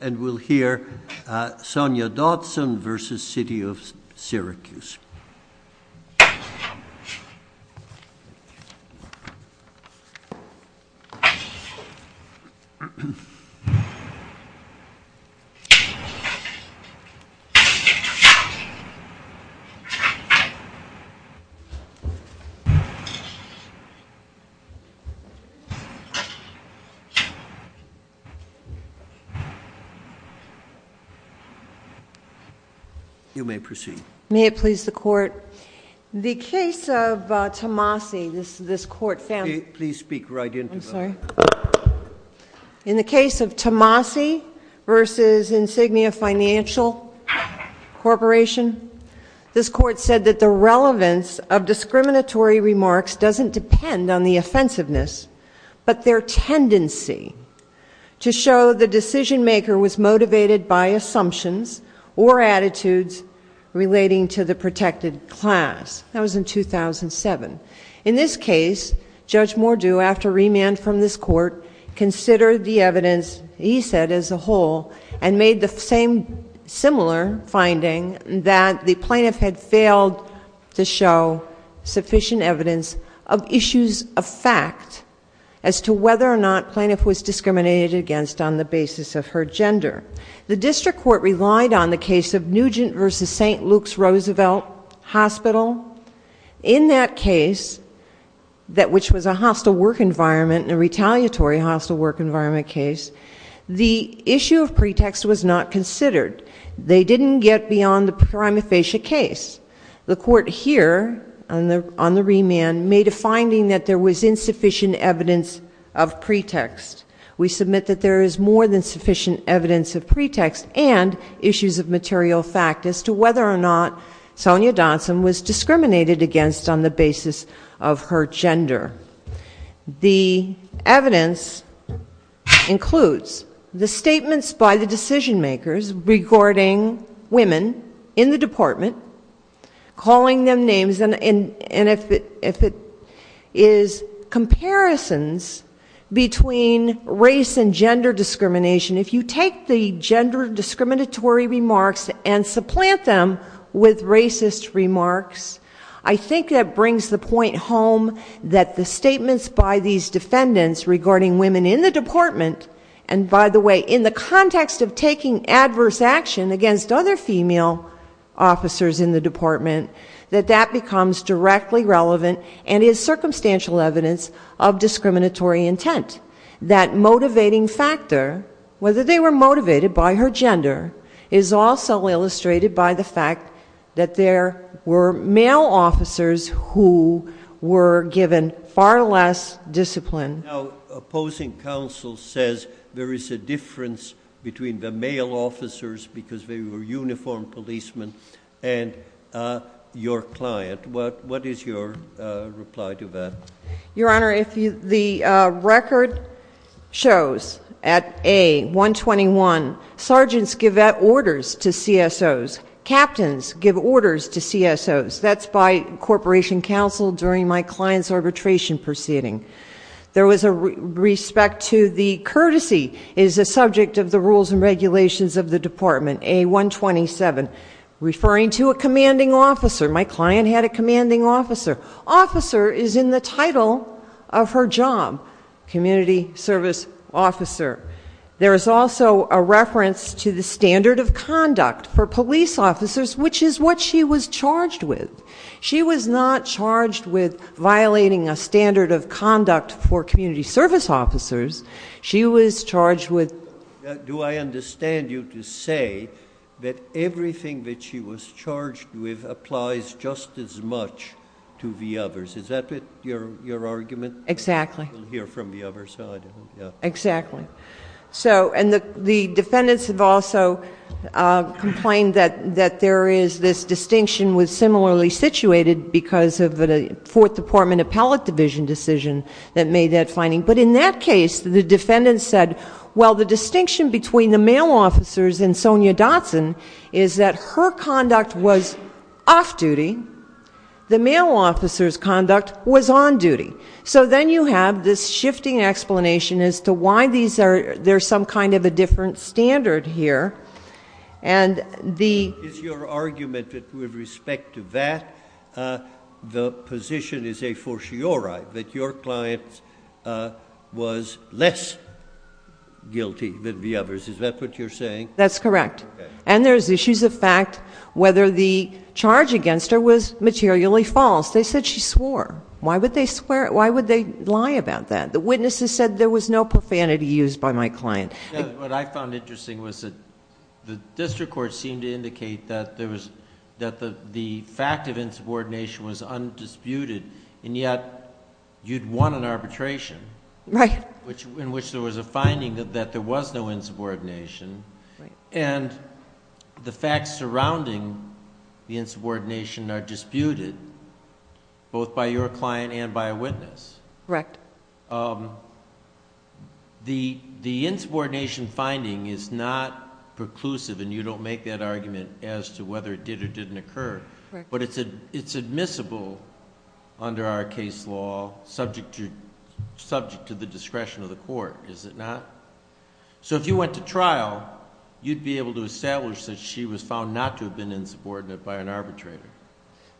And we'll hear Sonja Dotson v. City of Syracuse. You may proceed. May it please the court. The case of Tomasi, this court found... Please speak right into it. I'm sorry. In the case of Tomasi v. Insignia Financial Corporation, this court said that the relevance of discriminatory remarks doesn't depend on the offensiveness, but their tendency to show the decision-maker was motivated by assumptions or attitudes relating to the protected class. That was in 2007. In this case, Judge Mordew, after remand from this court, considered the evidence, he said as a whole, and made the same similar finding that the plaintiff had failed to show sufficient evidence of issues of fact as to whether or not plaintiff was discriminated against on the basis of her gender. The district court relied on the case of Nugent v. St. Luke's Roosevelt Hospital. In that case, which was a hostile work environment, a retaliatory hostile work environment case, the issue of pretext was not considered. They didn't get beyond the prima facie case. The court here, on the remand, made a finding that there was insufficient evidence of pretext. We submit that there is more than sufficient evidence of pretext and issues of material fact as to whether or not Sonia Dotson was discriminated against on the basis of her gender. The evidence includes the statements by the decision makers regarding women in the department, calling them names, and if it is comparisons between race and gender discrimination. If you take the gender discriminatory remarks and supplant them with racist remarks, I think that brings the point home that the statements by these defendants regarding women in the department, and by the way, in the context of taking adverse action against other female officers in the department, that that becomes directly relevant and is circumstantial evidence of discriminatory intent. That motivating factor, whether they were motivated by her gender, is also illustrated by the fact that there were male officers who were given far less discipline. Now, opposing counsel says there is a difference between the male officers, because they were uniformed policemen, and your client. What is your reply to that? Your Honor, the record shows at A-121, sergeants give orders to CSOs, captains give orders to CSOs. That's by corporation counsel during my client's arbitration proceeding. There was a respect to the courtesy is a subject of the rules and regulations of the department, A-127, referring to a commanding officer. My client had a commanding officer. Officer is in the title of her job, community service officer. There is also a reference to the standard of conduct for police officers, which is what she was charged with. She was not charged with violating a standard of conduct for community service officers. She was charged with... Do I understand you to say that everything that she was charged with applies just as much to the others? Is that your argument? Exactly. You can hear from the other side. Exactly. The defendants have also complained that there is this distinction with similarly situated because of a fourth department appellate division decision that made that finding. In that case, the defendants said, well, the distinction between the male officers and Sonia Dotson is that her conduct was off-duty. The male officers' conduct was on-duty. So then you have this shifting explanation as to why there's some kind of a different standard here. Is your argument that with respect to that, the position is a fortiori, that your client was less guilty than the others? Is that what you're saying? That's correct. And there's issues of fact, whether the charge against her was materially false. They said she swore. Why would they lie about that? The witnesses said there was no profanity used by my client. What I found interesting was that the district court seemed to indicate that the fact of insubordination was undisputed and yet you'd won an arbitration in which there was a finding that there was no insubordination. The facts surrounding the insubordination are disputed both by your client and by a witness. The insubordination finding is not preclusive and you don't make that argument as to whether it did or didn't occur. It's admissible under our case law, subject to the discretion of the court, is it not? If you went to trial, you'd be able to establish that she was found not to have been insubordinate by an arbitrator.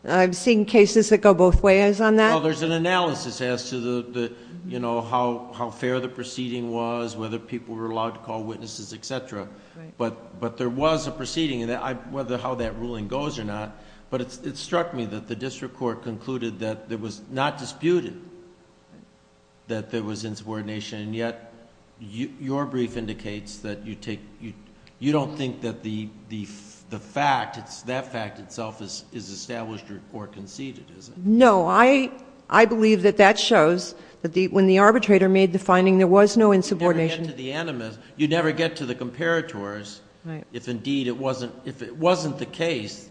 I've seen cases that go both ways on that. There's an analysis as to how fair the proceeding was, whether people were allowed to call witnesses, etc. There was a proceeding, whether how that ruling goes or not, but it struck me that the district court concluded that it was not disputed that there was insubordination and yet your brief indicates that you don't think that the fact, that fact itself is established or conceded, is it? No. I believe that that shows that when the arbitrator made the finding there was no insubordination. You'd never get to the animus. You'd never get to the comparators. If indeed it wasn't the case,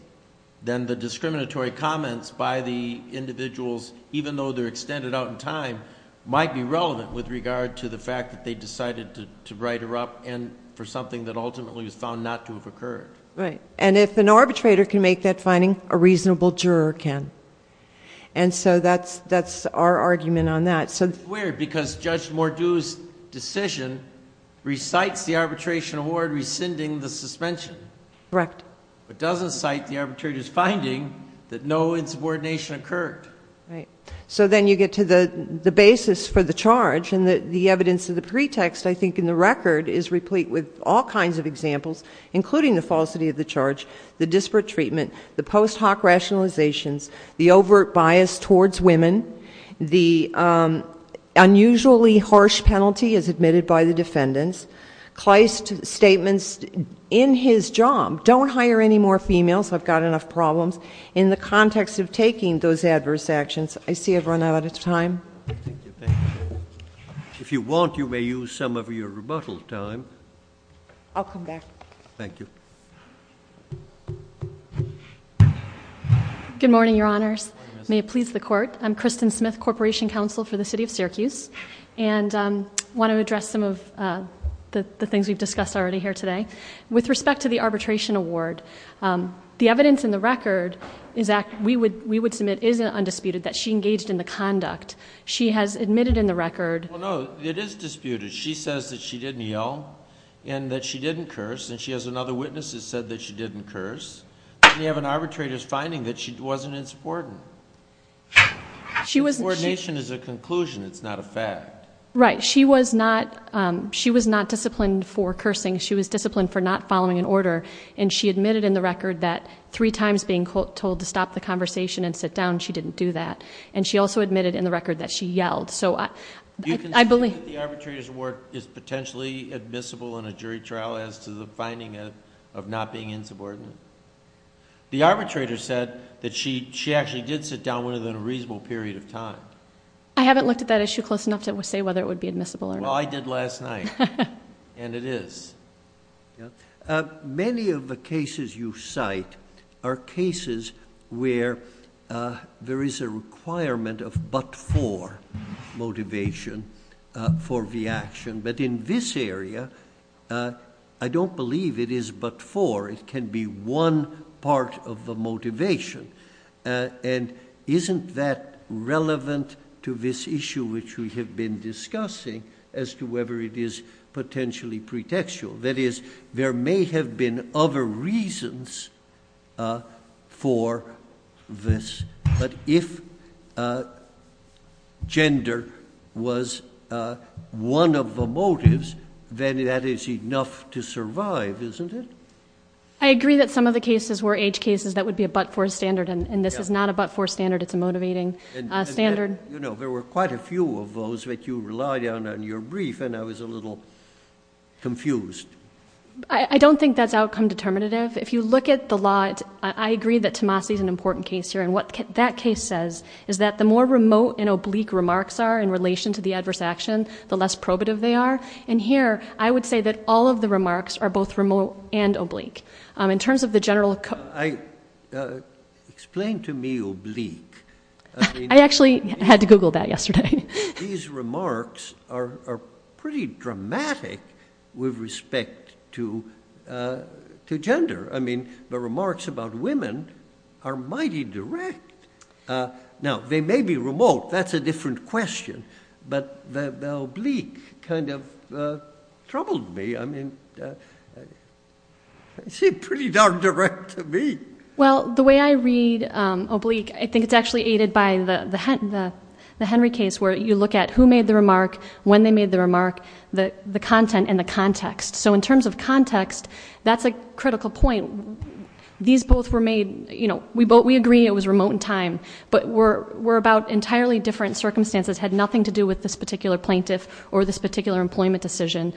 then the discriminatory comments by the individuals, even though they're extended out in time, might be relevant with regard to the fact that they decided to write her up and for something that ultimately was found not to have occurred. If an arbitrator can make that finding, a reasonable juror can. That's our argument on that. It's weird because Judge Mordew's decision recites the arbitration award rescinding the suspension. Correct. It doesn't cite the arbitrator's finding that no insubordination occurred. Right. So then you get to the basis for the charge and the evidence of the pretext, I think, in the record is replete with all kinds of examples, including the falsity of the charge, the disparate treatment, the post hoc rationalizations, the overt bias towards women, the unusually harsh penalty as admitted by the defendants, Kleist's statements in his job, don't hire any more females, I've got enough problems, in the context of taking those adverse actions. I see I've run out of time. If you want, you may use some of your rebuttal time. I'll come back. Thank you. Good morning, Your Honors. May it please the Court. I'm Kristen Smith, Corporation Counsel for the City of Syracuse. I want to address some of the things we've discussed already here today. With respect to the arbitration award, the evidence in the record we would submit is undisputed, that she engaged in the conduct. She has admitted in the record... Well, no, it is disputed. She says that she didn't yell and that she didn't curse, and she has another witness that said that she didn't curse. We have an arbitrator's finding that she wasn't insubordinate. Insubordination is a conclusion, it's not a fact. Right. She was not disciplined for cursing. She was disciplined for not following an order. She admitted in the record that three times being told to stop the conversation and sit down, she didn't do that. She also admitted in the record that she yelled. Do you consider that the arbitrator's award is potentially admissible in a jury trial as to the finding of not being insubordinate? The arbitrator said that she actually did sit down with her in a reasonable period of time. I haven't looked at that issue close enough to say whether it would be admissible or not. Well, I did last night, and it is. Many of the cases you cite are cases where there is a requirement of but-for motivation for the action. But in this area, I don't believe it is but-for. It can be one part of the motivation. And isn't that relevant to this issue which we have been discussing as to whether it is potentially pretextual? That is, there may have been other reasons for this. But if gender was one of the motives, then that is enough to survive, isn't it? I agree that some of the cases were age cases that would be a but-for standard, and this is not a but-for standard. It's a motivating standard. There were quite a few of those that you relied on in your brief, and I was a little confused. I don't think that's outcome determinative. If you look at the law, I agree that Tomasi is an important case here. And what that case says is that the more remote and oblique remarks are in relation to the adverse action, the less probative they are. And here, I would say that all of the remarks are both remote and oblique. In terms of the general... Explain to me oblique. I actually had to Google that yesterday. These remarks are pretty dramatic with respect to gender. I mean, the remarks about women are mighty direct. Now, they may be remote. That's a different question. But the oblique kind of troubled me. I mean, it seemed pretty darn direct to me. Well, the way I read oblique, I think it's actually aided by the Henry case, where you look at who made the remark, when they made the remark, the content, and the context. So in terms of context, that's a critical point. These both were made, you know, we agree it was remote in time, but were about entirely different circumstances, had nothing to do with this particular plaintiff or this particular employment decision.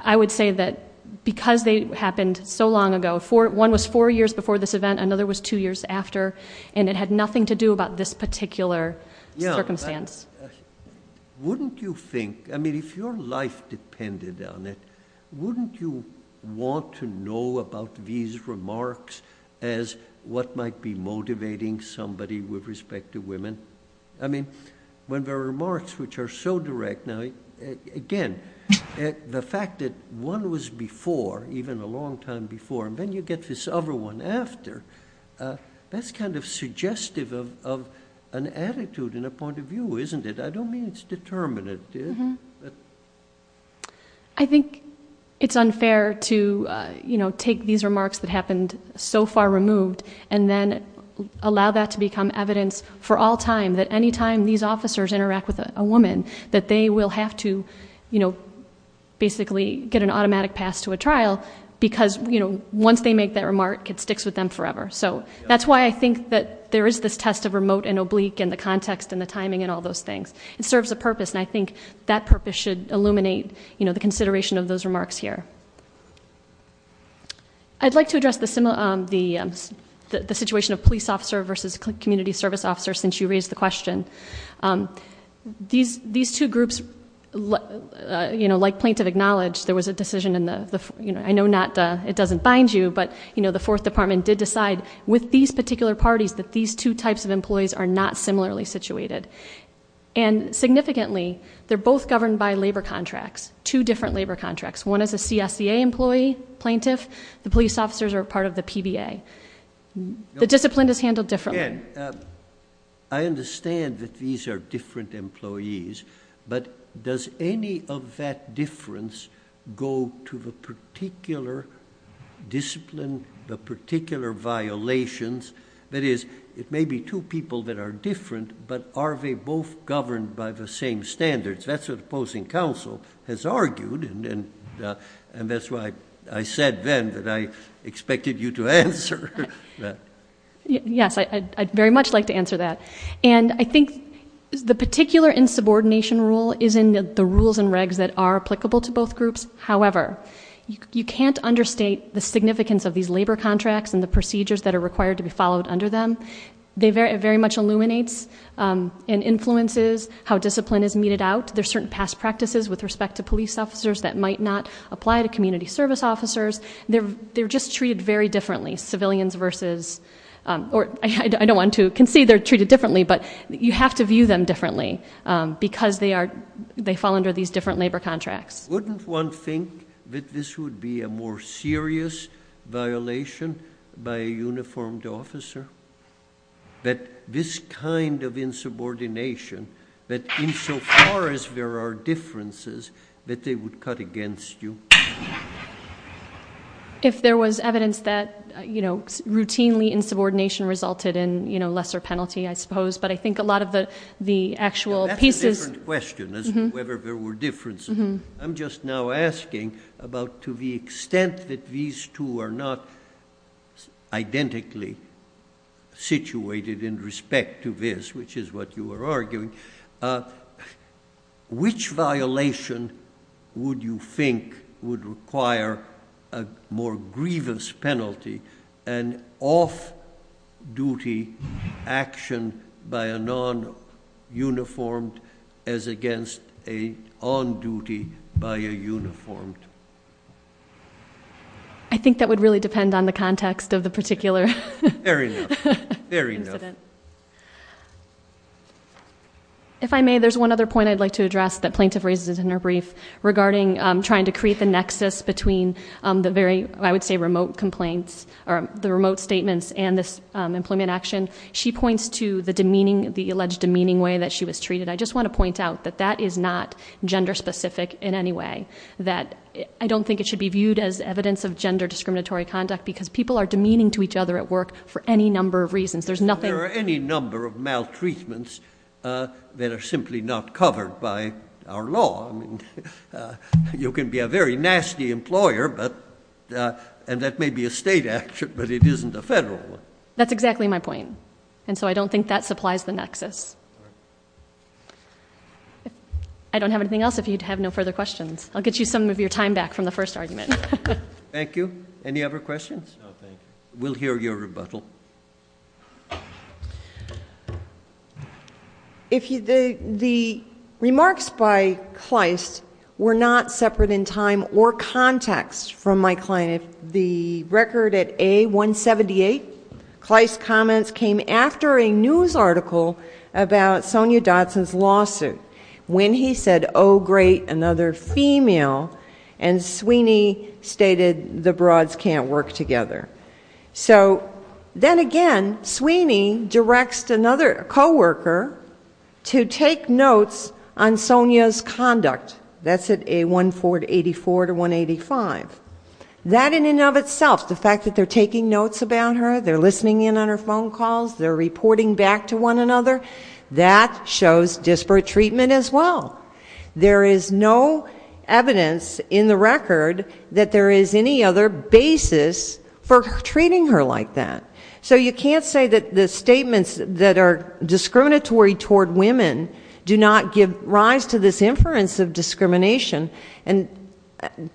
I would say that because they happened so long ago, one was four years before this event, another was two years after, and it had nothing to do about this particular circumstance. Wouldn't you think, I mean, if your life depended on it, wouldn't you want to know about these remarks as what might be motivating somebody with respect to women? I mean, when there are remarks which are so direct, now, again, the fact that one was before, even a long time before, and then you get this other one after, that's kind of suggestive of an attitude and a point of view, isn't it? I don't mean it's determinate. I think it's unfair to take these remarks that happened so far removed and then allow that to become evidence for all time, that any time these officers interact with a woman, that they will have to basically get an automatic pass to a trial because once they make that remark, it sticks with them forever. So that's why I think that there is this test of remote and oblique and the context and the timing and all those things. It serves a purpose, and I think that purpose should illuminate the consideration of those remarks here. I'd like to address the situation of police officer versus community service officer since you raised the question. These two groups, like plaintiff acknowledged, there was a decision in the, I know it doesn't bind you, but the Fourth Department did decide with these particular parties that these two types of employees are not similarly situated. Significantly, they're both governed by labor contracts, two different labor contracts. One is a CSEA employee, plaintiff. The police officers are part of the PBA. The discipline is handled differently. I understand that these are different employees, but does any of that difference go to the particular discipline, the particular violations? That is, it may be two people that are different, but are they both governed by the same standards? That's what the opposing counsel has argued, and that's why I said then that I expected you to answer that. Yes, I'd very much like to answer that. And I think the particular insubordination rule is in the rules and regs that are applicable to both groups. However, you can't understate the significance of these labor contracts and the procedures that are required to be followed under them. It very much illuminates and influences how discipline is meted out. There are certain past practices with respect to police officers that might not apply to community service officers. They're just treated very differently, civilians versus, or I don't want to concede they're treated differently, but you have to view them differently because they fall under these different labor contracts. Wouldn't one think that this would be a more serious violation by a uniformed officer? That this kind of insubordination, that insofar as there are differences, that they would cut against you? If there was evidence that routinely insubordination resulted in lesser penalty, I suppose, but I think a lot of the actual pieces... That's a different question as to whether there were differences. I'm just now asking about to the extent that these two are not identically situated in respect to this, which is what you were arguing, which violation would you think would require a more grievous penalty, an off-duty action by a non-uniformed as against a on-duty by a uniformed? I think that would really depend on the context of the particular incident. Fair enough. If I may, there's one other point I'd like to address that Plaintiff raises in her brief regarding trying to create the nexus between the very, I would say, remote statements and this employment action. She points to the alleged demeaning way that she was treated. I just want to point out that that is not gender-specific in any way. I don't think it should be viewed as evidence of gender discriminatory conduct because people are demeaning to each other at work for any number of reasons. There are any number of maltreatments that are simply not covered by our law. You can be a very nasty employer, and that may be a state action, but it isn't a federal one. That's exactly my point, and so I don't think that supplies the nexus. I don't have anything else if you have no further questions. I'll get you some of your time back from the first argument. Thank you. Any other questions? No, thank you. We'll hear your rebuttal. Thank you. The remarks by Kleist were not separate in time or context from my client. The record at A178, Kleist's comments came after a news article about Sonia Dotson's lawsuit when he said, Oh great, another female, and Sweeney stated the broads can't work together. Then again, Sweeney directs another coworker to take notes on Sonia's conduct. That's at A1484-185. That in and of itself, the fact that they're taking notes about her, they're listening in on her phone calls, they're reporting back to one another, that shows disparate treatment as well. There is no evidence in the record that there is any other basis for treating her like that. So you can't say that the statements that are discriminatory toward women do not give rise to this inference of discrimination.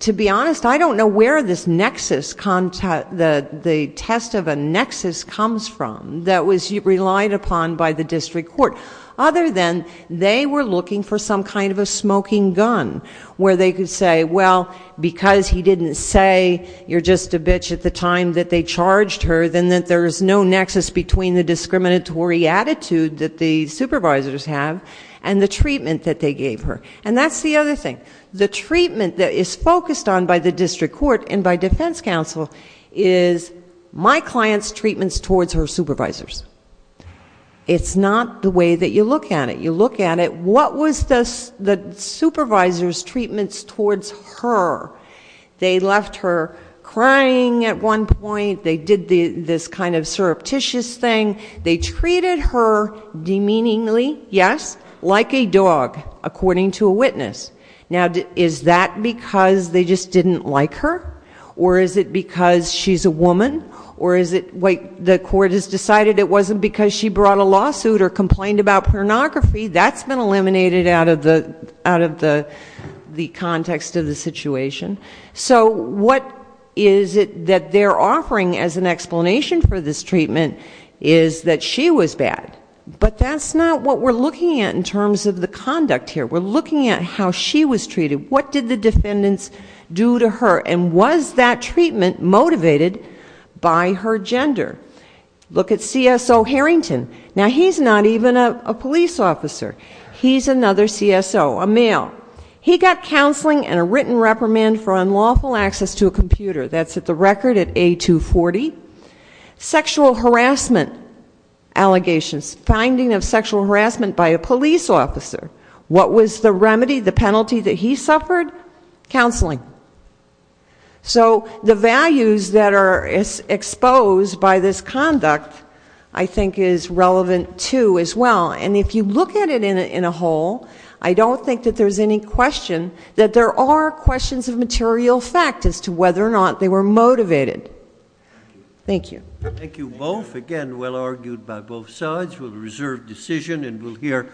To be honest, I don't know where this nexus, the test of a nexus comes from that was relied upon by the district court, other than they were looking for some kind of a smoking gun where they could say, Well, because he didn't say you're just a bitch at the time that they charged her, then there's no nexus between the discriminatory attitude that the supervisors have and the treatment that they gave her. And that's the other thing. The treatment that is focused on by the district court and by defense counsel is my client's treatments towards her supervisors. It's not the way that you look at it. You look at it, what was the supervisor's treatments towards her? They left her crying at one point. They did this kind of surreptitious thing. They treated her demeaningly, yes, like a dog, according to a witness. Now, is that because they just didn't like her, or is it because she's a woman, or is it the court has decided it wasn't because she brought a lawsuit or complained about pornography? That's been eliminated out of the context of the situation. So what is it that they're offering as an explanation for this treatment is that she was bad. But that's not what we're looking at in terms of the conduct here. We're looking at how she was treated. What did the defendants do to her? And was that treatment motivated by her gender? Look at CSO Harrington. Now, he's not even a police officer. He's another CSO, a male. He got counseling and a written reprimand for unlawful access to a computer. That's at the record at A240. Sexual harassment allegations, finding of sexual harassment by a police officer. What was the remedy, the penalty that he suffered? Counseling. So the values that are exposed by this conduct I think is relevant, too, as well. And if you look at it in a whole, I don't think that there's any question that there are questions of material fact as to whether or not they were motivated. Thank you. Thank you both. Again, well argued by both sides. We'll reserve decision and we'll hear.